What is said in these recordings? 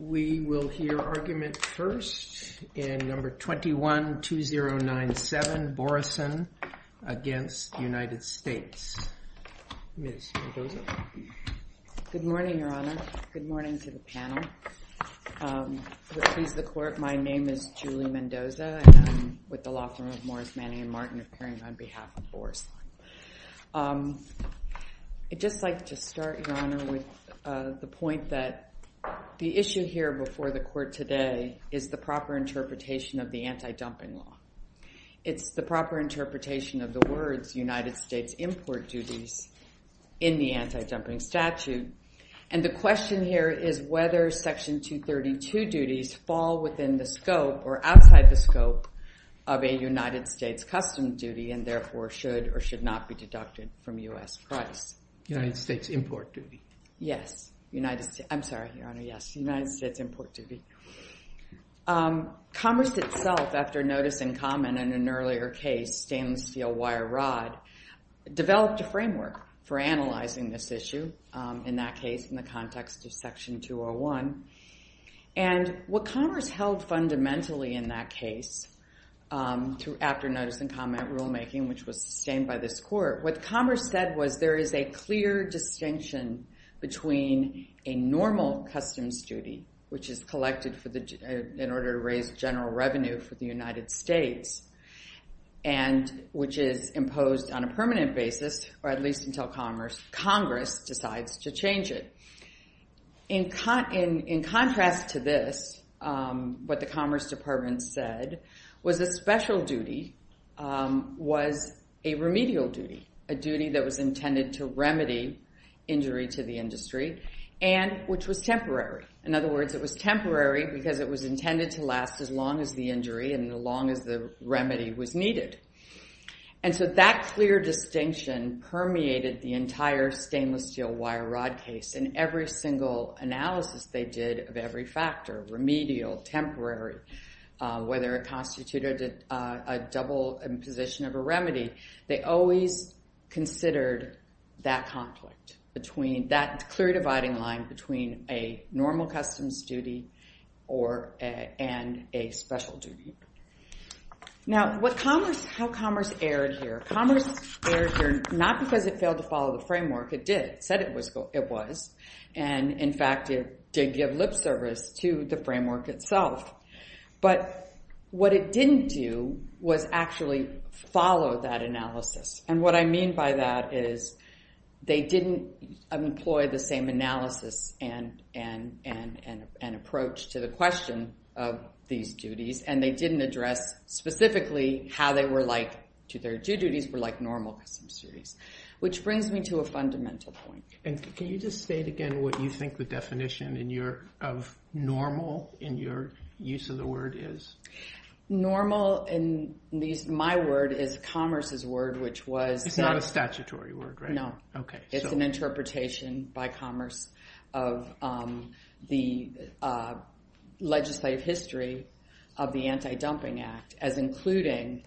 We will hear argument first in number 21-2097, Borusan against the United States. Ms. Mendoza? Good morning, Your Honor. Good morning to the panel. To please the court, my name is Julie Mendoza. And I'm with the law firm of Morris, Manning, and Martin appearing on behalf of Borusan. I'd just like to start, Your Honor, with the point that the issue here before the court today is the proper interpretation of the anti-dumping law. It's the proper interpretation of the words United States import duties in the anti-dumping statute. And the question here is whether Section 232 duties fall within the scope or outside the scope of a United States custom duty, and therefore should or should not be deducted from US price. United States import duty. Yes, United States. I'm sorry, Your Honor, yes, United States import duty. Commerce itself, after notice and comment in an earlier case, stainless steel wire rod, developed a framework for analyzing this issue, in that case, in the context of Section 201. And what Commerce held fundamentally in that case, after notice and comment rulemaking, which was sustained by this court, what Commerce said was there is a clear distinction between a normal customs duty, which is collected in order to raise general revenue for the United States, and which is imposed on a permanent basis, or at least until Congress decides to change it. In contrast to this, what the Commerce Department said was a special duty was a remedial duty, a duty that was intended to remedy injury to the industry, and which was temporary. In other words, it was temporary because it was intended to last as long as the injury and as long as the remedy was needed. And so that clear distinction permeated the entire stainless steel wire rod case. In every single analysis they did of every factor, remedial, temporary, whether it constituted a double and position of a remedy, they always considered that conflict, that clear dividing line between a normal customs duty and a special duty. Now, how Commerce erred here, Commerce erred here not because it failed to follow the framework. It did. It said it was. And in fact, it did give lip service to the framework itself. But what it didn't do was actually follow that analysis. And what I mean by that is they didn't employ the same analysis and approach to the question of these duties. And they didn't address specifically how they were like to their due duties were like normal customs duties, which brings me to a fundamental point. And can you just state again what you think the definition of normal in your use of the word is? Normal in my word is Commerce's word, which was. It's not a statutory word, right? No. It's an interpretation by Commerce of the legislative history of the Anti-Dumping Act as including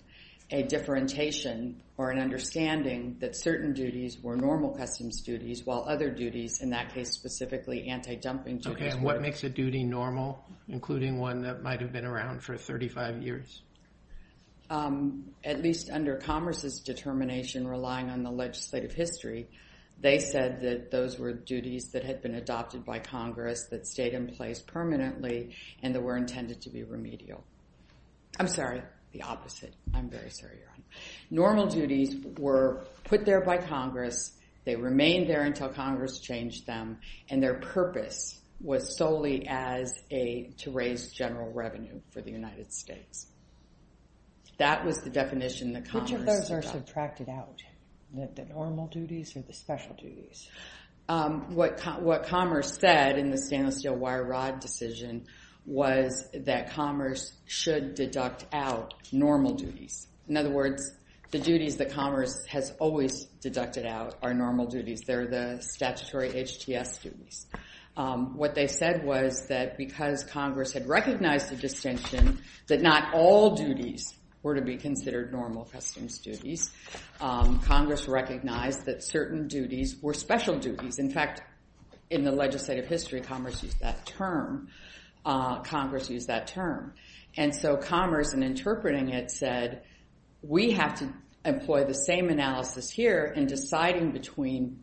a differentiation or an understanding that certain duties were normal customs duties while other duties, in that case, specifically anti-dumping duties. OK. And what makes a duty normal, including one that might have been around for 35 years? At least under Commerce's determination relying on the legislative history, they said that those were duties that had been adopted by Congress, that stayed in place permanently, and that were intended to be remedial. I'm sorry, the opposite. I'm very sorry, Your Honor. Normal duties were put there by Congress. They remained there until Congress changed them. And their purpose was solely to raise general revenue for the United States. That was the definition that Commerce adopted. Which of those are subtracted out, the normal duties or the special duties? What Commerce said in the Stainless Steel Wire Rod decision was that Commerce should deduct out normal duties. In other words, the duties that Commerce has always deducted out are normal duties. They're the statutory HTS duties. What they said was that because Congress had recognized the distinction that not all duties were to be considered normal customs duties, Congress recognized that certain duties were special duties. In fact, in the legislative history, Commerce used that term. Congress used that term. And so Commerce, in interpreting it, said we have to employ the same analysis here in deciding between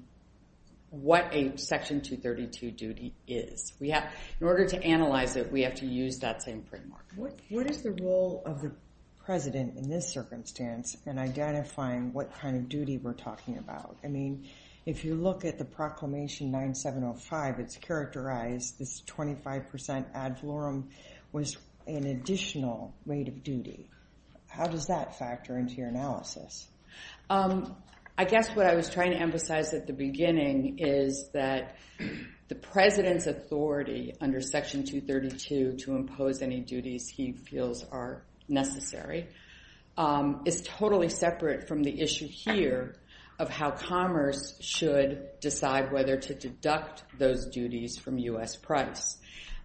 what a Section 232 duty is. In order to analyze it, we have to use that same framework. What is the role of the president in this circumstance in identifying what kind of duty we're talking about? I mean, if you look at the Proclamation 9705, it's characterized as 25% ad florum was an additional rate of duty. How does that factor into your analysis? I guess what I was trying to emphasize at the beginning is that the president's authority under Section 232 to impose any duties he feels are necessary is totally separate from the issue here of how Commerce should decide whether to deduct those duties from US price.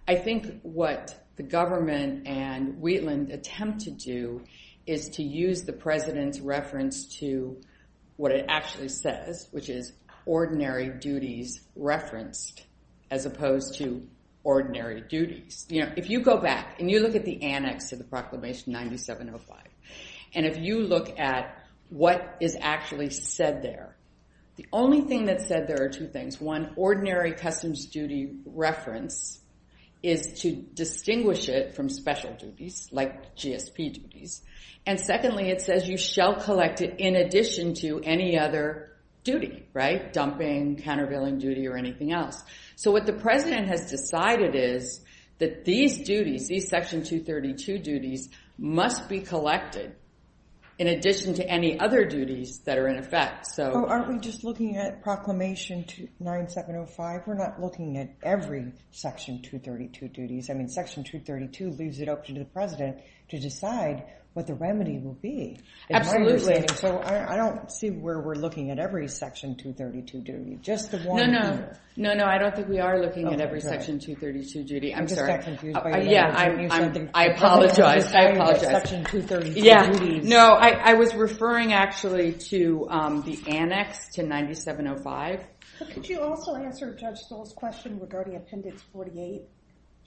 I think what the government and Wheatland attempt to do is to use the president's reference to what it actually says, which is ordinary duties referenced as opposed to ordinary duties. If you go back and you look at the annex of the Proclamation 9705, and if you look at what is actually said there, the only thing that's said there are two things. One, ordinary customs duty reference is to distinguish it from special duties, like GSP duties. And secondly, it says you shall collect it in addition to any other duty, dumping, countervailing duty, or anything else. So what the president has decided is that these duties, these Section 232 duties, must be collected in addition to any other duties that are in effect. Aren't we just looking at Proclamation 9705? We're not looking at every Section 232 duties. I mean, Section 232 leaves it up to the president to decide what the remedy will be. Absolutely. So I don't see where we're looking at every Section 232 duty, just the one. No, no. No, no, I don't think we are looking at every Section 232 duty. I'm sorry. Yeah, I apologize. I apologize. No, I was referring, actually, to the annex to 9705. But could you also answer Judge Stoll's question regarding Appendix 48?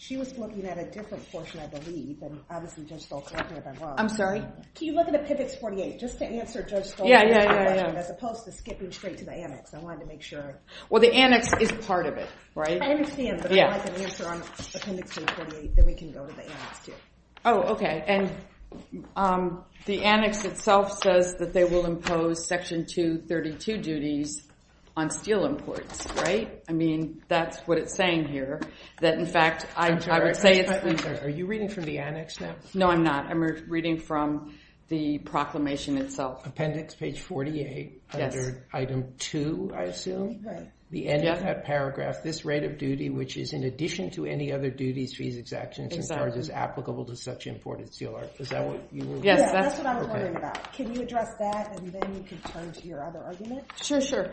She was looking at a different portion, I believe. And obviously, Judge Stoll collected it as well. I'm sorry? Can you look at Appendix 48, just to answer Judge Stoll's question, as opposed to skipping straight to the annex? I wanted to make sure. Well, the annex is part of it, right? I understand, but if you'd like an answer on Appendix 48, then we can go to the annex, too. Oh, OK. And the annex itself says that they will impose Section 232 imports, right? I mean, that's what it's saying here. That, in fact, I would say it's the annex. Are you reading from the annex now? No, I'm not. I'm reading from the proclamation itself. Appendix page 48, under item 2, I assume? Right. The end of that paragraph. This rate of duty, which is in addition to any other duties, fees, exactions, and charges applicable to such imported steel art. Is that what you were looking at? Yes, that's what I was wondering about. Can you address that? And then you can turn to your other argument. Sure, sure.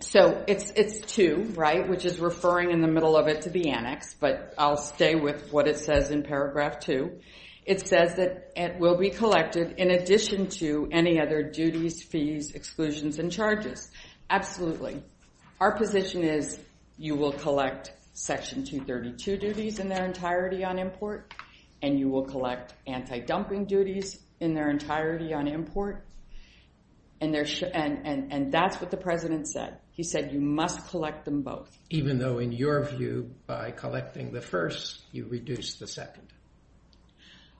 So it's 2, right? Which is referring, in the middle of it, to the annex. But I'll stay with what it says in paragraph 2. It says that it will be collected in addition to any other duties, fees, exclusions, and charges. Absolutely. Our position is you will collect Section 232 duties in their entirety on import. And you will collect anti-dumping duties in their entirety on import. And that's what the president said. He said you must collect them both. Even though, in your view, by collecting the first, you reduce the second.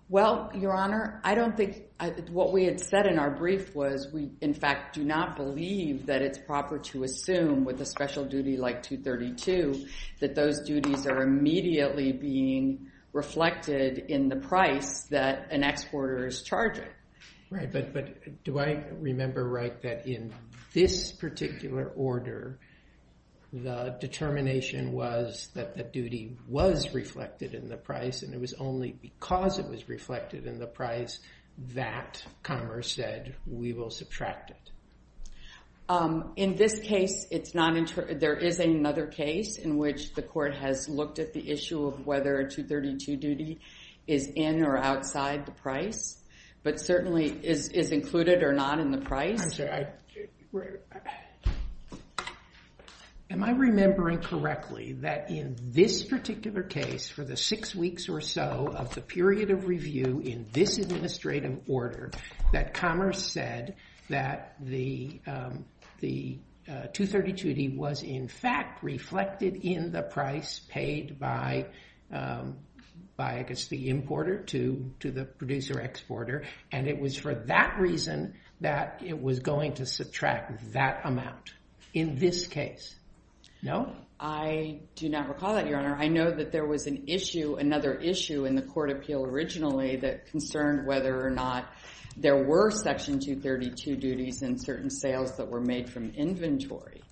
Well, Your Honor, I don't think what we had said in our brief was we, in fact, do not believe that it's proper to assume, with a special duty like 232, that those duties are immediately being reflected in the price that an exporter is charging. Right, but do I remember right that in this particular order, the determination was that the duty was reflected in the price and it was only because it was reflected in the price that Commerce said we will subtract it? In this case, there is another case in which the court has looked at the issue of whether a 232 duty is in or outside the price. But certainly, is included or not in the price? Am I remembering correctly that in this particular case, for the six weeks or so of the period of review in this administrative order, that Commerce said that the 232 duty was, in fact, reflected in the price paid by, I guess, the importer to the producer exporter. And it was for that reason that it was going to subtract that amount in this case. No? I do not recall that, Your Honor. I know that there was another issue in the court appeal originally that concerned whether or not there were Section 232 duties in certain sales that were made from inventory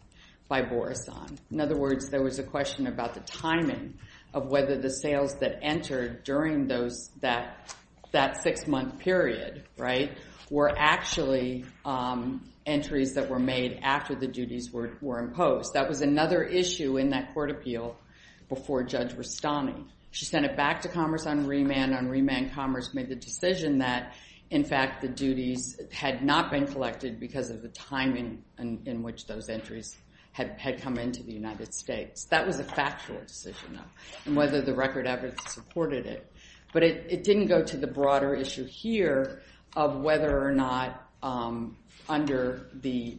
by Borisohn. In other words, there was a question about the timing of whether the sales that entered during that six-month period were actually entries that were made after the duties were imposed. That was another issue in that court appeal before Judge Rastani. She sent it back to Commerce on remand. On remand, Commerce made the decision that, in fact, the duties had not been collected because of the timing in which those entries had come into the United States. That was a factual decision, though, and whether the record evidence supported it. But it didn't go to the broader issue here of whether or not, under the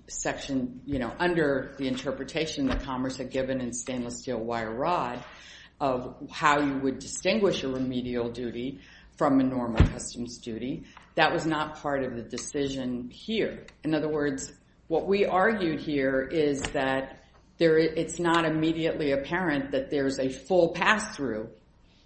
interpretation that Commerce had given in stainless steel wire rod, of how you would distinguish a remedial duty from a normal customs duty. That was not part of the decision here. In other words, what we argued here is that it's not immediately apparent that there is a full pass-through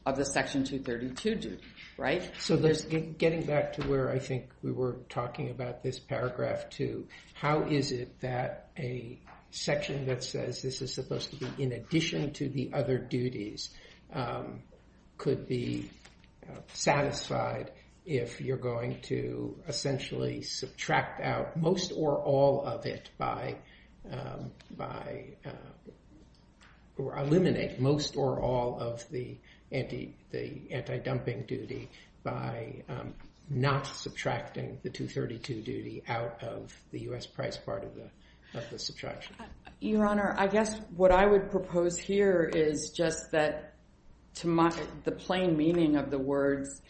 of the Section 232 duty, right? So getting back to where I think we were talking about this paragraph two, how is it that a section that says this is supposed to be in addition to the other duties could be satisfied if you're going to essentially subtract out most or all of it by, or eliminate most or all of the anti-dumping duty by not subtracting the 232 duty out of the US price part of the subtraction? Your Honor, I guess what I would propose here is just that, to the plain meaning of the words,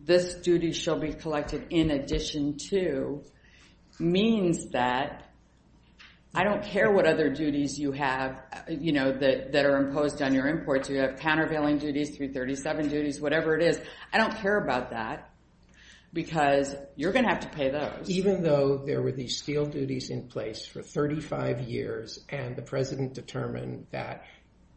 this duty shall be collected in addition to, means that I don't care what other duties you have that are imposed on your imports. You have countervailing duties, 337 duties, whatever it is. I don't care about that, because you're going to have to pay those. Even though there were these steel duties in place for 35 years, and the President determined that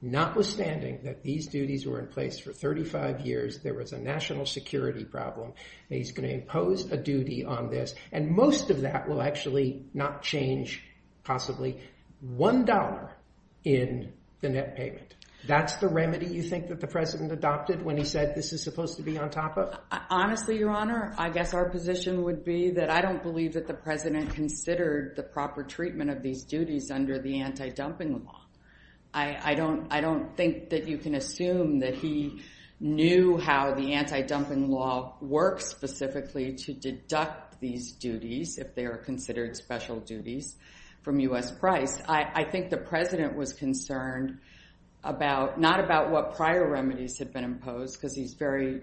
notwithstanding that these duties were in place for 35 years, there was a national security problem. He's going to impose a duty on this. And most of that will actually not change, possibly, $1 in the net payment. That's the remedy you think that the President adopted when he said this is supposed to be on top of? Honestly, Your Honor, I guess our position would be that I don't believe that the President considered the proper treatment of these duties under the anti-dumping law. I don't think that you can assume that he knew how the anti-dumping law works specifically to deduct these duties, if they are considered special duties, from US price. I think the President was concerned about, not about what prior remedies had been imposed, because he's very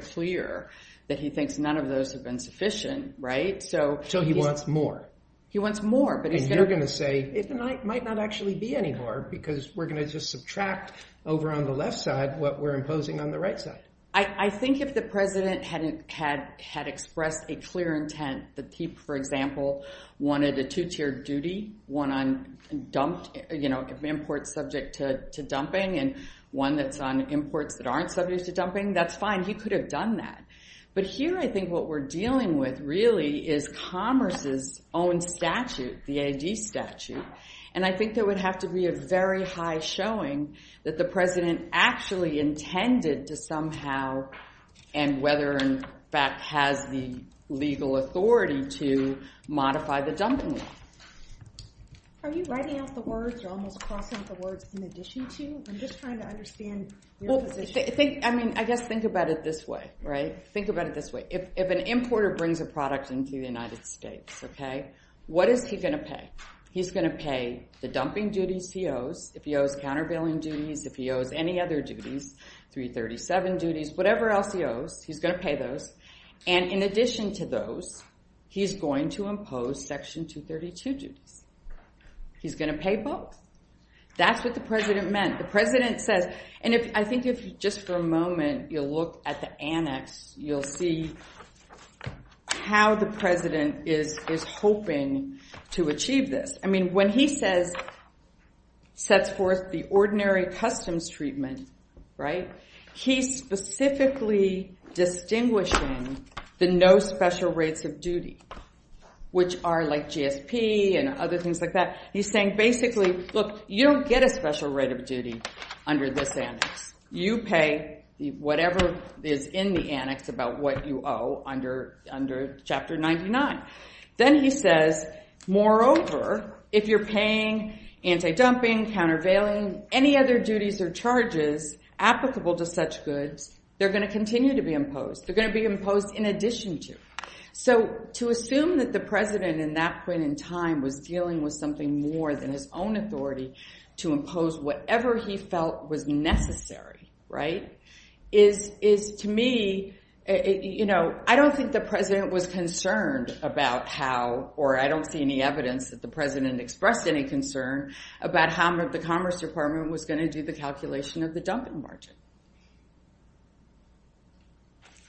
clear that he thinks none of those have been sufficient, right? So he wants more. He wants more. And you're going to say, it might not actually be any more, because we're going to just subtract over on the left side what we're imposing on the right side. I think if the President had expressed a clear intent that he, for example, wanted a two-tiered duty, one on imports subject to dumping, and one that's on imports that aren't subject to dumping, that's fine. He could have done that. But here, I think what we're dealing with, really, is commerce's own statute, the AD statute. And I think there would have to be a very high showing that the President actually intended to somehow, and whether, in fact, has the legal authority to modify the dumping law. Are you writing out the words, or almost crossing out the words, in addition to? I'm just trying to understand your position. I mean, I guess think about it this way, right? Think about it this way. If an importer brings a product into the United States, what is he going to pay? He's going to pay the dumping duties he owes, if he owes countervailing duties, if he owes any other duties, 337 duties, whatever else he owes, he's going to pay those. And in addition to those, he's going to impose Section 232 duties. He's going to pay both. That's what the President meant. The President says, and I think if, just for a moment, you'll look at the annex, you'll see how the President is hoping to achieve this. I mean, when he says, sets forth the ordinary customs treatment, he's specifically distinguishing the no special rates of duty, which are like GSP and other things like that. He's saying, basically, look, you don't get a special rate of duty under this annex. You pay whatever is in the annex about what you owe under Chapter 99. Then he says, moreover, if you're paying anti-dumping, countervailing, any other duties or charges applicable to such goods, they're going to continue to be imposed. They're going to be imposed in addition to. So to assume that the President, in that point in time, was dealing with something more than his own authority to impose whatever he felt was necessary is, to me, I don't think the President was concerned about how, or I don't see any evidence that the President expressed any concern about how the Commerce Department was going to do the calculation of the dumping margin.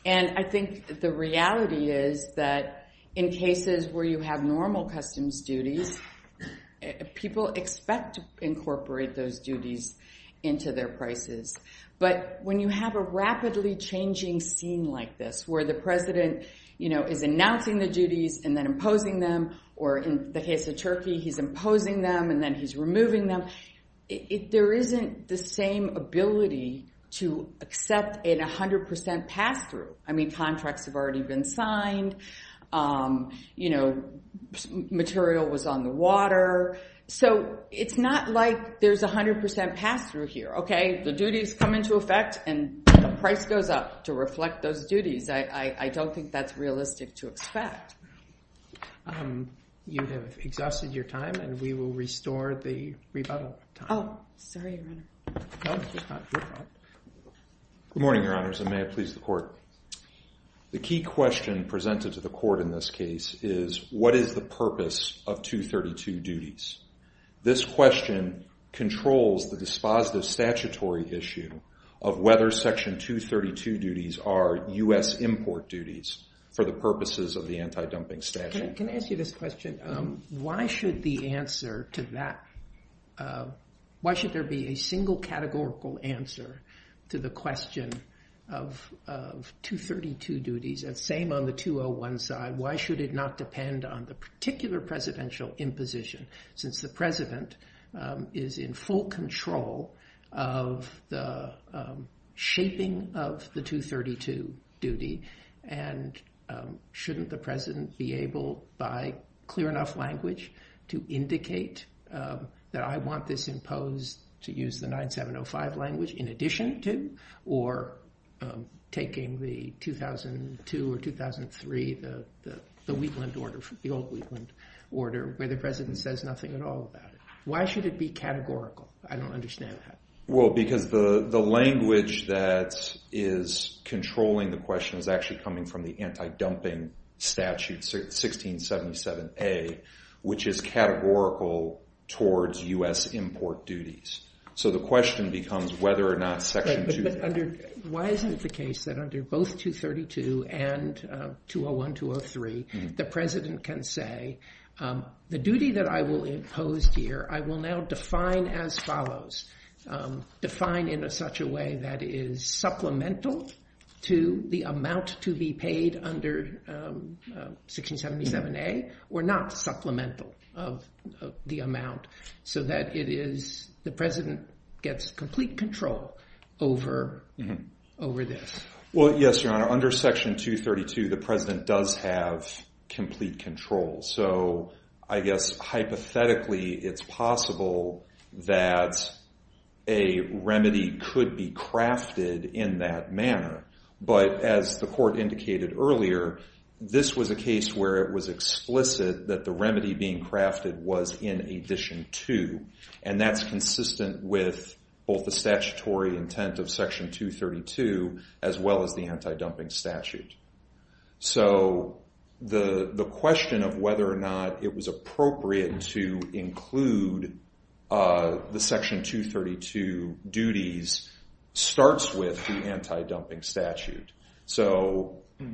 And I think the reality is that in cases where you have normal customs duties, people expect to incorporate those duties into their prices. But when you have a rapidly changing scene like this, where the President is announcing the duties and then imposing them, or in the case of Turkey, he's imposing them and then he's removing them, there isn't the same ability to accept a 100% pass-through. I mean, contracts have already been signed. You know, material was on the water. So it's not like there's a 100% pass-through here, OK? The duties come into effect, and the price goes up to reflect those duties. I don't think that's realistic to expect. You have exhausted your time, and we will restore the rebuttal time. Oh, sorry, Your Honor. No, it's not your fault. Good morning, Your Honors, and may it please the Court. The key question presented to the Court in this case is, what is the purpose of 232 duties? This question controls the dispositive statutory issue of whether Section 232 duties are US import duties for the purposes of the anti-dumping statute. Can I ask you this question? Why should the answer to that, why should there be a single categorical answer to the question of 232 duties? And same on the 201 side. Why should it not depend on the particular presidential imposition, since the president is in full control of the shaping of the 232 duty? And shouldn't the president be able, by clear enough language, to indicate that I want this imposed to use the 9705 language in addition to, or taking the 2002 or 2003, the Wheatland order, the old Wheatland order, where the president says nothing at all about it? Why should it be categorical? I don't understand that. Well, because the language that is controlling the question is actually coming from the anti-dumping statute, 1677A, which is categorical towards US import duties. So the question becomes whether or not section 232. Why isn't it the case that under both 232 and 201, 203, the president can say, the duty that I will impose here, I will now define as follows. Define in such a way that is supplemental to the amount to be paid under 1677A, or not supplemental of the amount, so that the president gets complete control over this. Well, yes, Your Honor. Under section 232, the president does have complete control. So I guess, hypothetically, it's possible that a remedy could be crafted in that manner. But as the court indicated earlier, this was a case where it was explicit that the remedy being crafted was in addition to. And that's consistent with both the statutory intent of section 232, as well as the anti-dumping statute. So the question of whether or not it was appropriate to include the section 232 duties starts with the anti-dumping statute.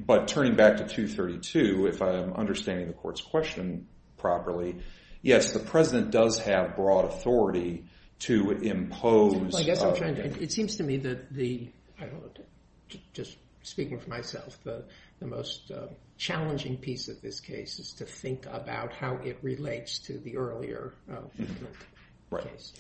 But turning back to 232, if I'm understanding the court's question properly, yes, the president does have broad authority to impose. It seems to me that the, just speaking for myself, the most challenging piece of this case is to think about how it relates to the earlier case.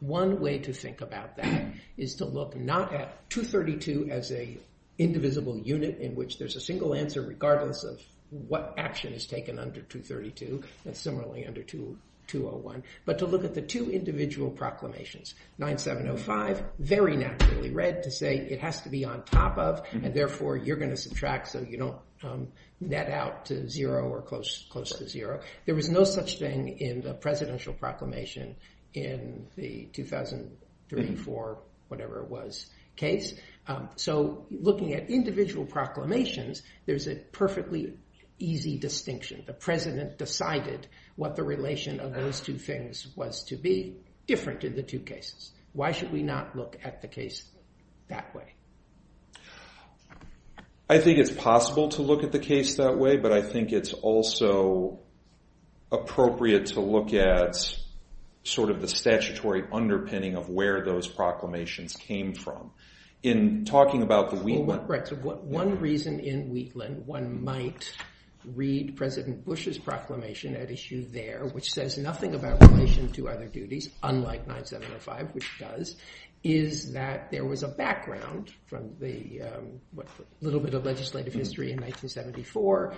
One way to think about that is to look not at 232 as a indivisible unit in which there's a single answer regardless of what action is taken under 232, and similarly under 201, but to look at the two individual proclamations. 9705, very naturally read to say it has to be on top of, and therefore you're going to subtract so you don't net out to zero or close to zero. There was no such thing in the presidential proclamation in the 2003, 2004, whatever it was, case. So looking at individual proclamations, there's a perfectly easy distinction. The president decided what the relation of those two things was to be different in the two cases. Why should we not look at the case that way? I think it's possible to look at the case that way, but I think it's also appropriate to look at the statutory underpinning of where those proclamations came from. In talking about the Wheatland. One reason in Wheatland one might read President Bush's proclamation at issue there, which says nothing about relation to other duties, unlike 9705, which does, is that there was a background from the little bit of legislative history in 1974,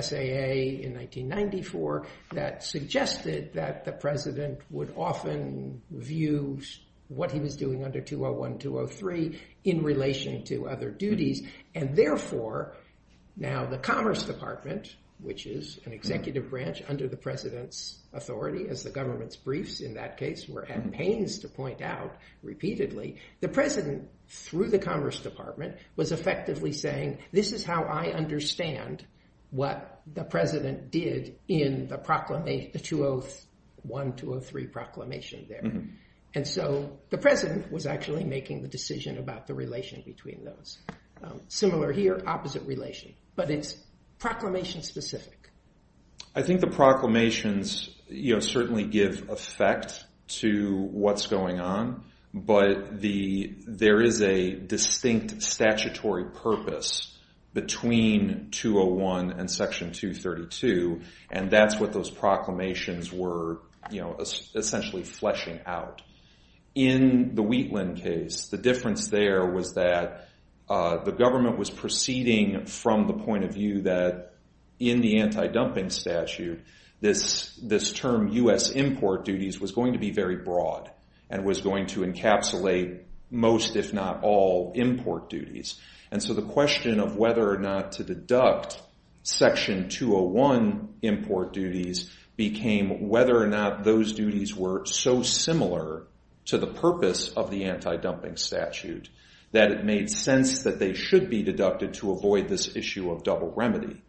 SAA in 1994, that suggested that the president would often view what he was doing under 201, 203 in relation to other duties. And therefore, now the Commerce Department, which is an executive branch under the president's authority as the government's briefs in that case were at pains to point out repeatedly, the president, through the Commerce Department, was effectively saying, this is how I understand what the president did in the 201, 203 proclamation there. And so the president was actually making the decision about the relation between those. Similar here, opposite relation, but it's proclamation specific. I think the proclamations certainly give effect to what's going on. But there is a distinct statutory purpose between 201 and section 232, and that's what those proclamations were essentially fleshing out. In the Wheatland case, the difference there was that the government was proceeding from the point of view that in the anti-dumping statute, this term US import duties was going to be very broad and was going to encapsulate most, if not all, import duties. And so the question of whether or not to deduct section 201 import duties became whether or not those duties were so similar to the purpose of the anti-dumping statute that it made sense that they should be deducted to avoid this issue of double remedy.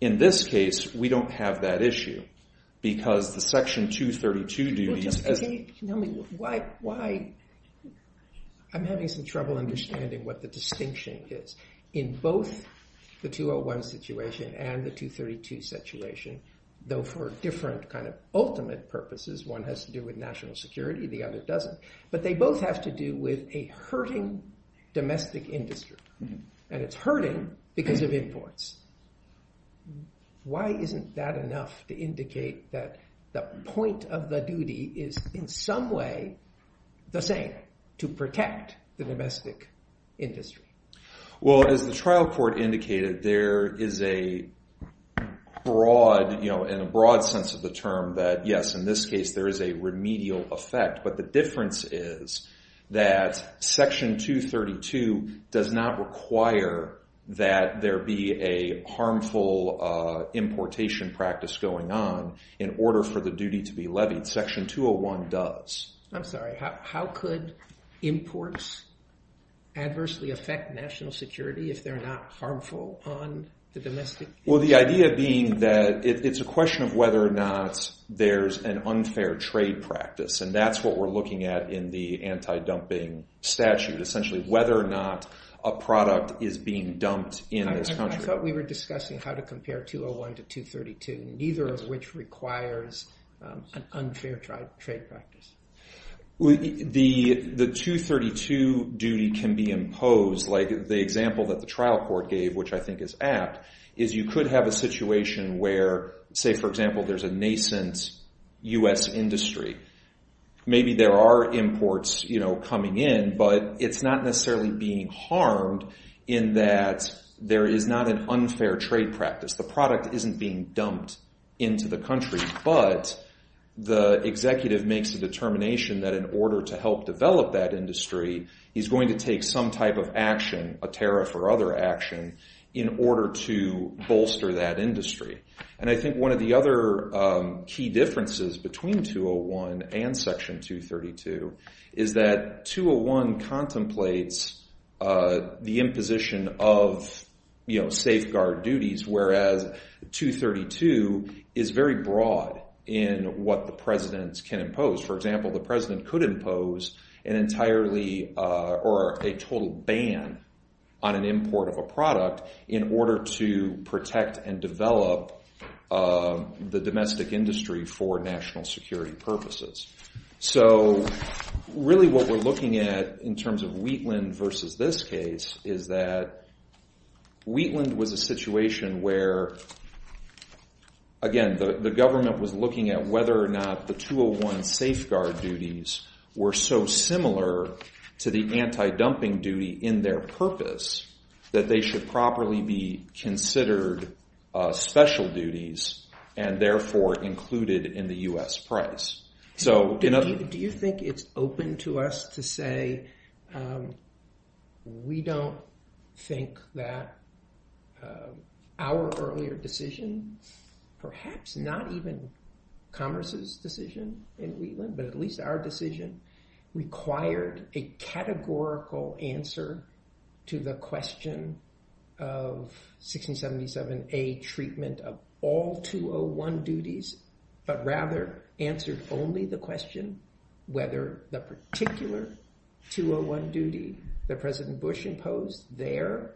In this case, we don't have that issue because the section 232 duties, as the- Can you tell me why I'm having some trouble understanding what the distinction is in both the 201 situation and the 232 situation, though for different kind of ultimate purposes. One has to do with national security, the other doesn't. But they both have to do with a hurting domestic industry. And it's hurting because of imports. Why isn't that enough to indicate that the point of the duty is, in some way, the same to protect the domestic industry? Well, as the trial court indicated, there is a broad, in a broad sense of the term, that yes, in this case, there is a remedial effect. But the difference is that section 232 does not require that there be a harmful importation practice going on in order for the duty to be levied. Section 201 does. I'm sorry. How could imports adversely affect national security if they're not harmful on the domestic? Well, the idea being that it's a question of whether or not there's an unfair trade practice. And that's what we're looking at in the anti-dumping statute, essentially whether or not a product is being dumped in this country. I thought we were discussing how to compare 201 to 232, neither of which requires an unfair trade practice. The 232 duty can be imposed. Like the example that the trial court gave, which I think is apt, is you could have a situation where, say, for example, there's a nascent US industry. Maybe there are imports coming in, but it's not necessarily being harmed in that there is not an unfair trade practice. The product isn't being dumped into the country. But the executive makes a determination that in order to help develop that industry, he's going to take some type of action, a tariff or other action, in order to bolster that industry. And I think one of the other key differences between 201 and Section 232 is that 201 contemplates the imposition of safeguard duties, whereas 232 is very broad in what the president can impose. For example, the president could impose an entirely or a total ban on an import of a product in order to protect and develop the domestic industry for national security purposes. So really what we're looking at in terms of Wheatland versus this case is that Wheatland was a situation where, again, the government was looking at whether or not the 201 safeguard duties were so similar to the anti-dumping duty in their purpose that they should properly be considered special duties, and therefore included in the US price. So in other words- Do you think it's open to us to say we don't think that our earlier decision, perhaps not even Commerce's decision in Wheatland, but at least our decision, required a categorical answer to the question of 1677A treatment of all 201 duties, but rather answered only the question whether the particular 201 duty that President Bush imposed there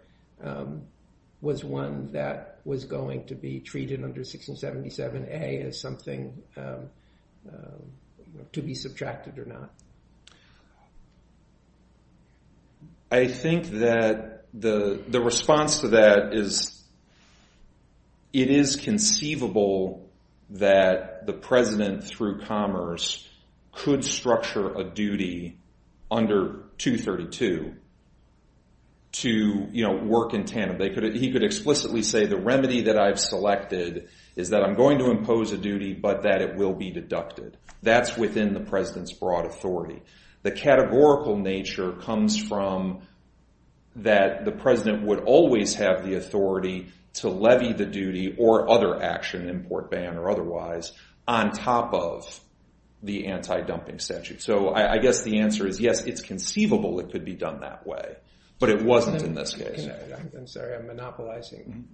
was one that was going to be treated under 1677A as something to be subtracted or not? I think that the response to that is it is conceivable that the president, through Commerce, could structure a duty under 232 to work in tandem. He could explicitly say the remedy that I've selected is that I'm going to impose a duty, but that it will be deducted. That's within the president's broad authority. The categorical nature comes from that the president would always have the authority to levy the duty or other action, import, ban, or otherwise, on top of the anti-dumping statute. So I guess the answer is yes, it's conceivable it could be done that way, but it wasn't in this case. I'm sorry, I'm monopolizing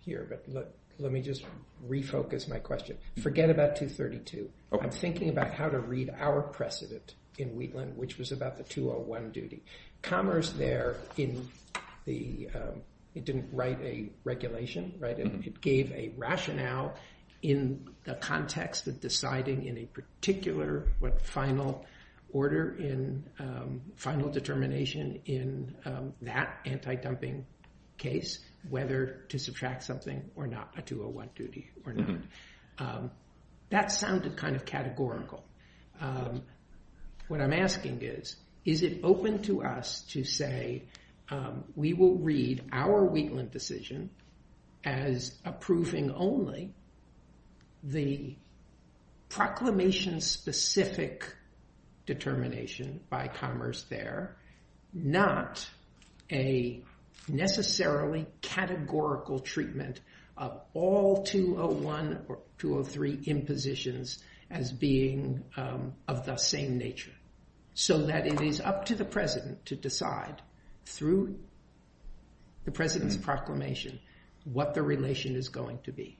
here, but let me just refocus my question. Forget about 232. I'm thinking about how to read our precedent in Wheatland, which was about the 201 duty. Commerce there, it didn't write a regulation. It gave a rationale in the context of deciding in a particular final order in final determination in that anti-dumping case whether to subtract something or not, a 201 duty or not. That sounded kind of categorical. What I'm asking is, is it open to us to say we will read our Wheatland decision as approving only the proclamation-specific determination by Commerce there, not a necessarily categorical treatment of all 201 or 203 impositions as being of the same nature, so that it is up to the president to decide through the president's proclamation what the relation is going to be?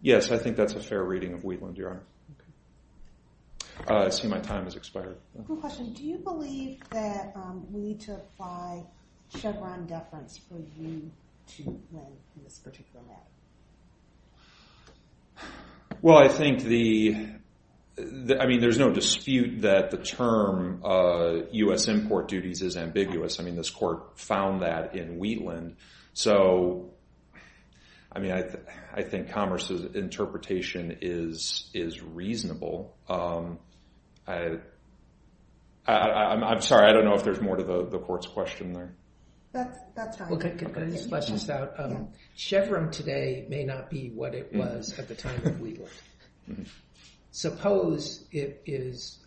Yes, I think that's a fair reading of Wheatland, Your Honor. I see my time has expired. I have a question. Do you believe that we need to apply Chevron deference for you to run in this particular matter? Well, I think there's no dispute that the term US import duties is ambiguous. I mean, this court found that in Wheatland. So I mean, I think Commerce's interpretation is reasonable. I'm sorry. I don't know if there's more to the court's question there. That's fine. Well, could I just flesh this out? Chevron today may not be what it was at the time of Wheatland. Suppose it is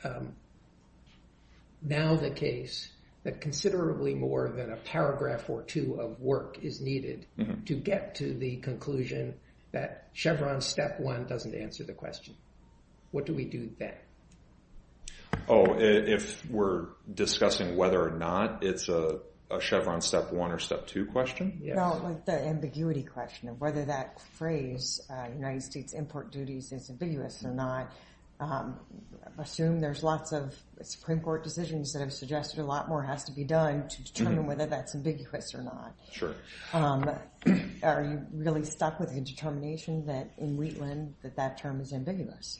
now the case that considerably more than a paragraph or two of work is needed to get to the conclusion that Chevron step one doesn't answer the question. What do we do then? Oh, if we're discussing whether or not it's a Chevron step one or step two question? The ambiguity question of whether that phrase United States import duties is ambiguous or not. Assume there's lots of Supreme Court decisions that have suggested a lot more has to be done to determine whether that's ambiguous or not. Sure. Are you really stuck with the determination that in Wheatland that that term is ambiguous?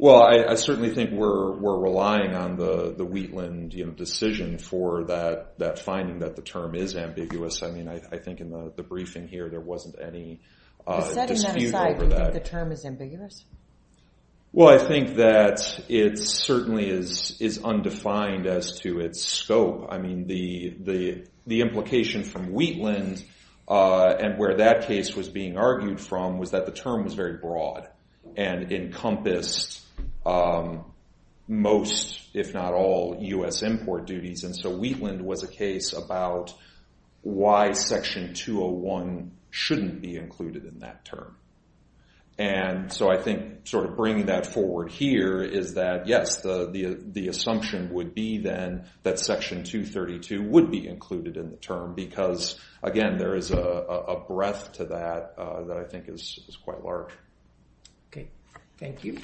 Well, I certainly think we're relying on the Wheatland decision for that finding that the term is ambiguous. I think in the briefing here there wasn't any dispute over that. Setting that aside, do you think the term is ambiguous? Well, I think that it certainly is undefined as to its scope. I mean, the implication from Wheatland and where that case was being argued from was that the term was very broad and encompassed most, if not all, US import duties. And so Wheatland was a case about why Section 201 shouldn't be included in that term. And so I think sort of bringing that forward here is that, yes, the assumption would be then that Section 232 would be included in the term because, again, there is a breadth to that that I think is quite large. OK. Thank you.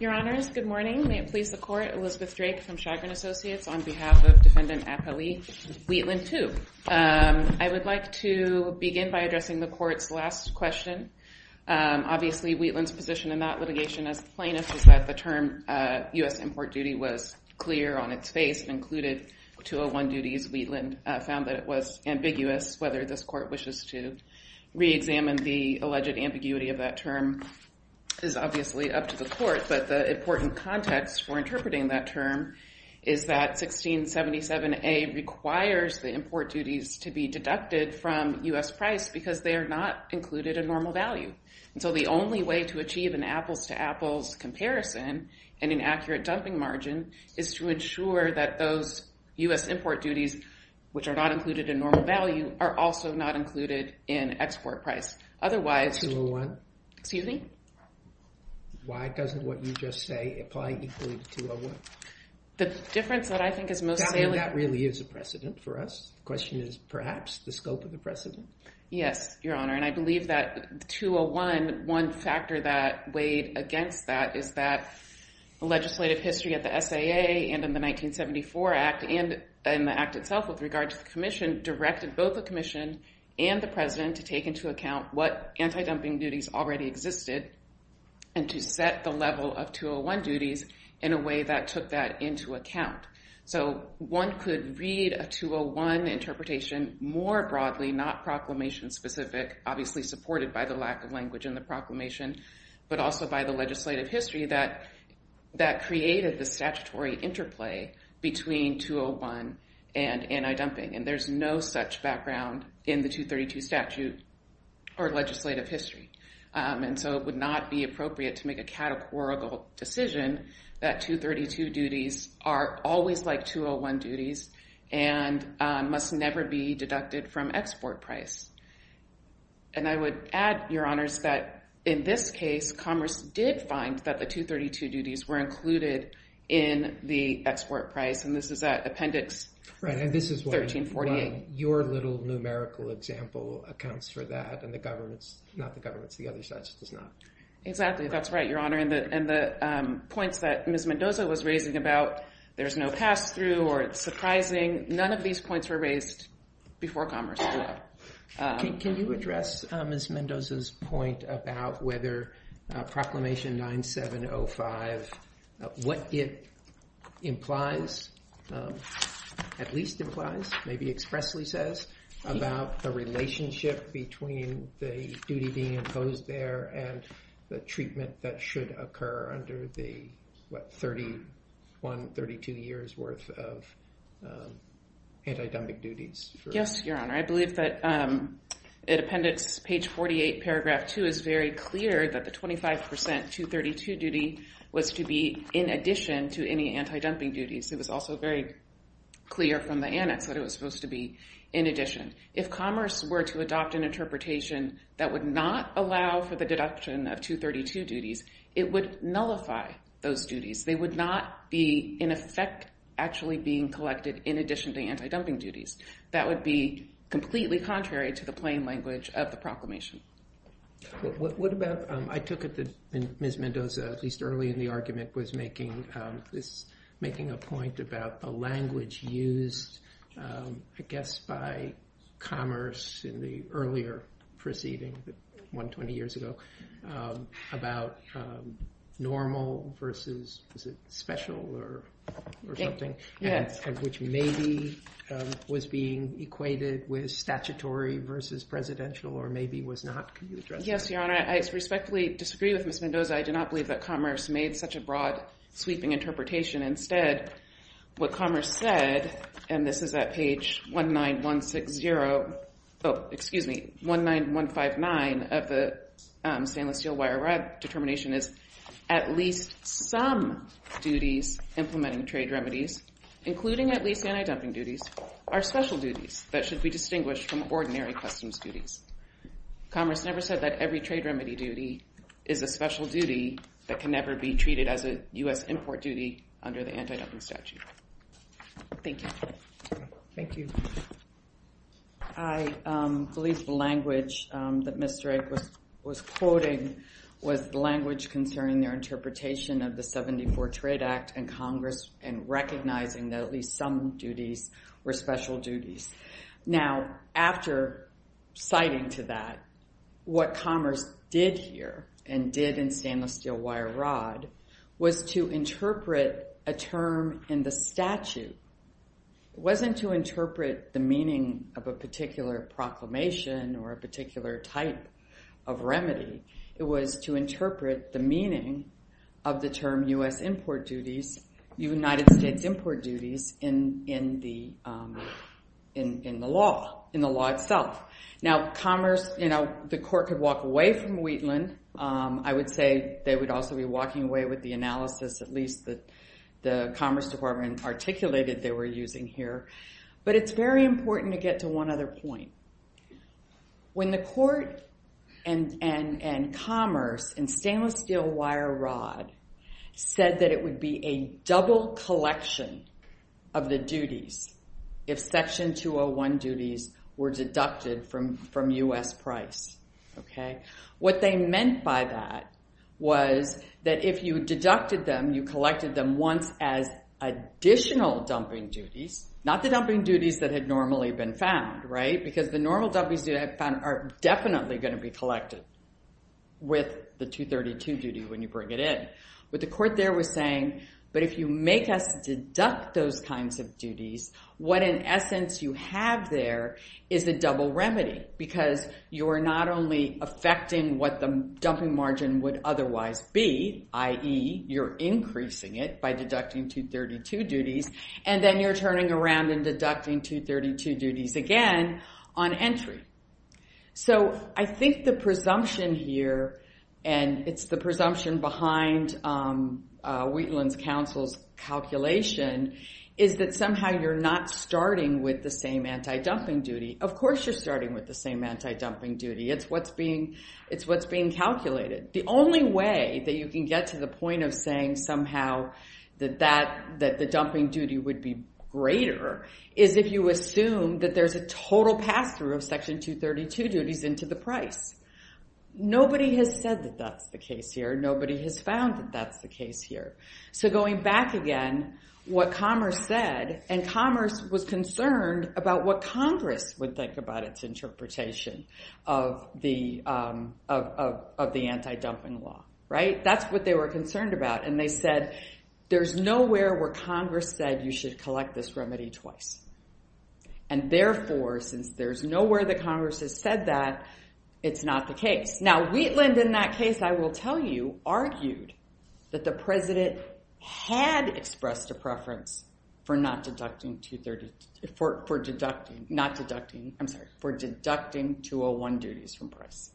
Your Honors, good morning. May it please the Court. Elizabeth Drake from Chagrin Associates on behalf of Defendant Apali Wheatland II. I would like to begin by addressing the Court's last question. Obviously, Wheatland's position in that litigation as plaintiff is that the term US import duty was clear on its face and included 201 duties. Wheatland found that it was ambiguous. Whether this Court wishes to re-examine the alleged ambiguity of that term is obviously up to the Court. But the important context for interpreting that term is that 1677A requires the import duties to be deducted from US price because they are not included in normal value. And so the only way to achieve an apples-to-apples comparison and an accurate dumping margin is to ensure that those US import duties, which are not included in normal value, are also not included in export price. Otherwise, excuse me? Why doesn't what you just say apply equally to 201? The difference that I think is most salient. That really is a precedent for us. Question is, perhaps, the scope of the precedent. Yes, Your Honor. And I believe that 201, one factor that weighed against that is that legislative history at the SAA and in the 1974 Act directed both the Commission and the President to take into account what anti-dumping duties already existed and to set the level of 201 duties in a way that took that into account. So one could read a 201 interpretation more broadly, not proclamation-specific, obviously supported by the lack of language in the proclamation, but also by the legislative history that created the statutory interplay between 201 and anti-dumping. And there's no such background in the 232 statute or legislative history. And so it would not be appropriate to make a categorical decision that 232 duties are always like 201 duties and must never be deducted from export price. And I would add, Your Honors, that in this case, Commerce did find that the 232 duties were included in the export price. And this is at Appendix 1348. Your little numerical example accounts for that, and the government's, not the government's, the other side's does not. Exactly, that's right, Your Honor. And the points that Ms. Mendoza was raising about there's no pass-through or it's surprising, none of these points were raised before Commerce did that. Can you address Ms. Mendoza's point about whether Proclamation 9705, what it implies, at least implies, maybe expressly says, about the relationship between the duty being imposed there and the treatment that should occur under the, what, 31, 32 years worth of anti-dumping duties? Yes, Your Honor. I believe that in Appendix page 48, paragraph 2, it was very clear that the 25% 232 duty was to be in addition to any anti-dumping duties. It was also very clear from the annex that it was supposed to be in addition. If Commerce were to adopt an interpretation that would not allow for the deduction of 232 duties, it would nullify those duties. They would not be, in effect, actually being collected in addition to anti-dumping duties. That would be completely contrary to the plain language of the proclamation. What about, I took it that Ms. Mendoza, at least early in the argument, was making a point about a language used, I guess, by Commerce in the earlier proceeding, the one 20 years ago, about normal versus, is it special or something, which maybe was being equated with statutory versus presidential, or maybe was not. Can you address that? Yes, Your Honor. I respectfully disagree with Ms. Mendoza. I do not believe that Commerce made such a broad, sweeping interpretation. Instead, what Commerce said, and this is at page 19160, oh, excuse me, 19159 of the Stainless Steel Wire determination is, at least some duties implementing trade remedies, including at least anti-dumping duties, are special duties that should be distinguished from ordinary customs duties. Commerce never said that every trade remedy duty is a special duty that can never be treated as a US import duty under the anti-dumping statute. Thank you. Thank you. I believe the language that Mr. Egg was quoting was the language concerning their interpretation of the 74 Trade Act and Congress, and recognizing that at least some duties were special duties. Now, after citing to that, what Commerce did here, and did in Stainless Steel Wire Rod, was to interpret a term in the statute. It wasn't to interpret the meaning of a particular proclamation or a particular type of remedy. It was to interpret the meaning of the term US import duties, United States import duties, in the law, in the law itself. Now, Commerce, the court could walk away from Wheatland. I would say they would also be walking away with the analysis, at least that the Commerce Department articulated they were using here. But it's very important to get to one other point. When the court and Commerce in Stainless Steel Wire Rod said that it would be a double collection of the duties if Section 201 duties were deducted from US price, what they meant by that was that if you deducted them, you collected them once as additional dumping duties, not the dumping duties that had normally been found, right? Because the normal dumping duties that I found are definitely going to be collected with the 232 duty when you bring it in. What the court there was saying, but if you make us deduct those kinds of duties, what in essence you have there is a double remedy, because you are not only affecting what the dumping margin would otherwise be, i.e. you're increasing it by deducting 232 duties, and then you're turning around and deducting 232 duties again on entry. So I think the presumption here, and it's the presumption behind Wheatland's counsel's calculation, is that somehow you're not starting with the same anti-dumping duty. Of course you're starting with the same anti-dumping duty. It's what's being calculated. The only way that you can get to the point of saying somehow that the dumping duty would be greater is if you assume that there's a total pass-through of Section 232 duties into the price. Nobody has said that that's the case here. Nobody has found that that's the case here. So going back again, what Commerce said, and Commerce was concerned about what Congress would think about its interpretation of the anti-dumping law, right? That's what they were concerned about. And they said, there's nowhere where Congress said you should collect this remedy twice. And therefore, since there's nowhere that Congress has said that, it's not the case. Now, Wheatland, in that case, I will tell you, argued that the president had expressed a preference for not I'm sorry, for deducting 201 duties from price.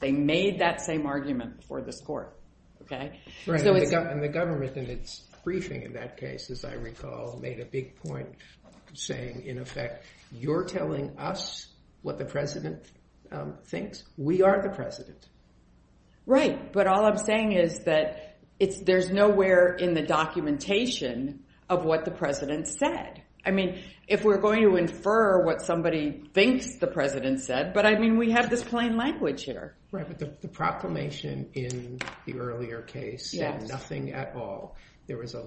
They made that same argument before this court, OK? Right, and the government in its briefing in that case, as I recall, made a big point saying, in effect, you're telling us what the president thinks. We are the president. Right, but all I'm saying is that there's nowhere in the documentation of what the president said. I mean, if we're going to infer what somebody thinks the president said, but I mean, we have this plain language here. Right, but the proclamation in the earlier case said nothing at all. There was a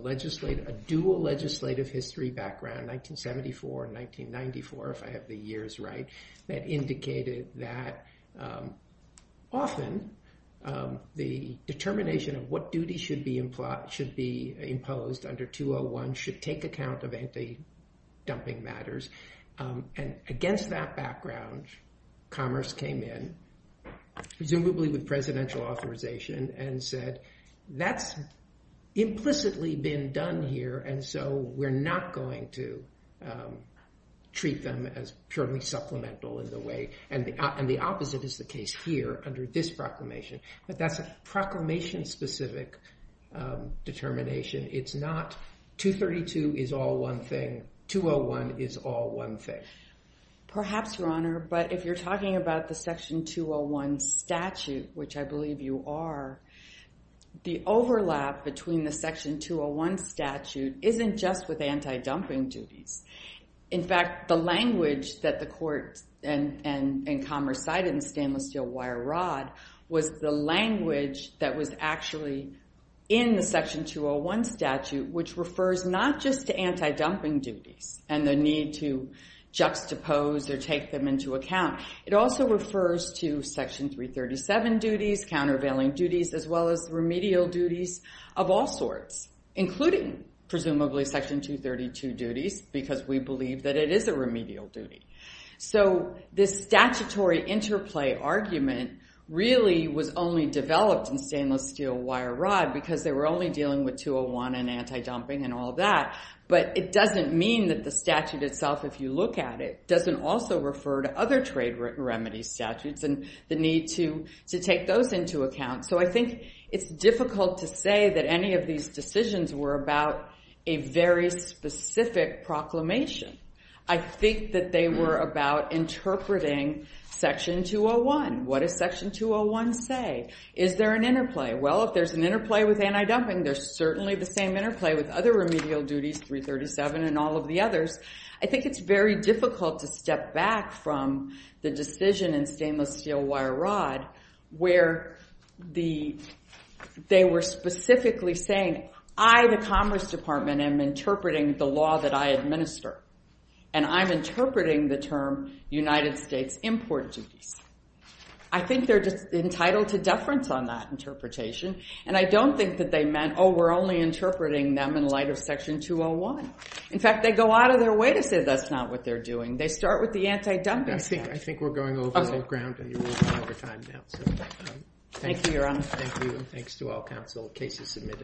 dual legislative history background, 1974 and 1994, if I have the years right, that indicated that often the determination of what duty should be imposed under 201 should take account of anti-dumping matters. And against that background, Commerce came in, presumably with presidential authorization, and said, that's implicitly been done here. And so we're not going to treat them as purely supplemental in the way. And the opposite is the case here under this proclamation. But that's a proclamation-specific determination. It's not 232 is all one thing, 201 is all one thing. Perhaps, Your Honor, but if you're talking about the Section 201 statute, which I believe you are, the overlap between the Section 201 statute isn't just with anti-dumping duties. In fact, the language that the court and Commerce cited in the Stainless Steel Wire Rod was the language that was actually in the Section 201 statute, which refers not just to anti-dumping duties and the need to juxtapose or take them into account. It also refers to Section 337 duties, countervailing duties, as well as remedial duties of all sorts, including, presumably, Section 232 duties, because we believe that it is a remedial duty. So this statutory interplay argument really was only developed in Stainless Steel Wire Rod because they were only dealing with 201 and anti-dumping and all that. But it doesn't mean that the statute itself, if you look at it, doesn't also refer to other trade remedy statutes and the need to take those into account. So I think it's difficult to say that any of these decisions were about a very specific proclamation. I think that they were about interpreting Section 201. What does Section 201 say? Is there an interplay? Well, if there's an interplay with anti-dumping, there's certainly the same interplay with other remedial duties, 337 and all of the others. I think it's very difficult to step back from the decision in Stainless Steel Wire Rod where they were specifically saying, I, the Commerce Department, am interpreting the law that I administer. And I'm interpreting the term United States import duties. I think they're entitled to deference on that interpretation. And I don't think that they meant, oh, we're only interpreting them in light of Section 201. In fact, they go out of their way to say that's not what they're doing. They start with the anti-dumping statute. I think we're going over all the ground, and you're running out of time now. Thank you, Your Honor. Thank you, and thanks to all counsel, cases submitted.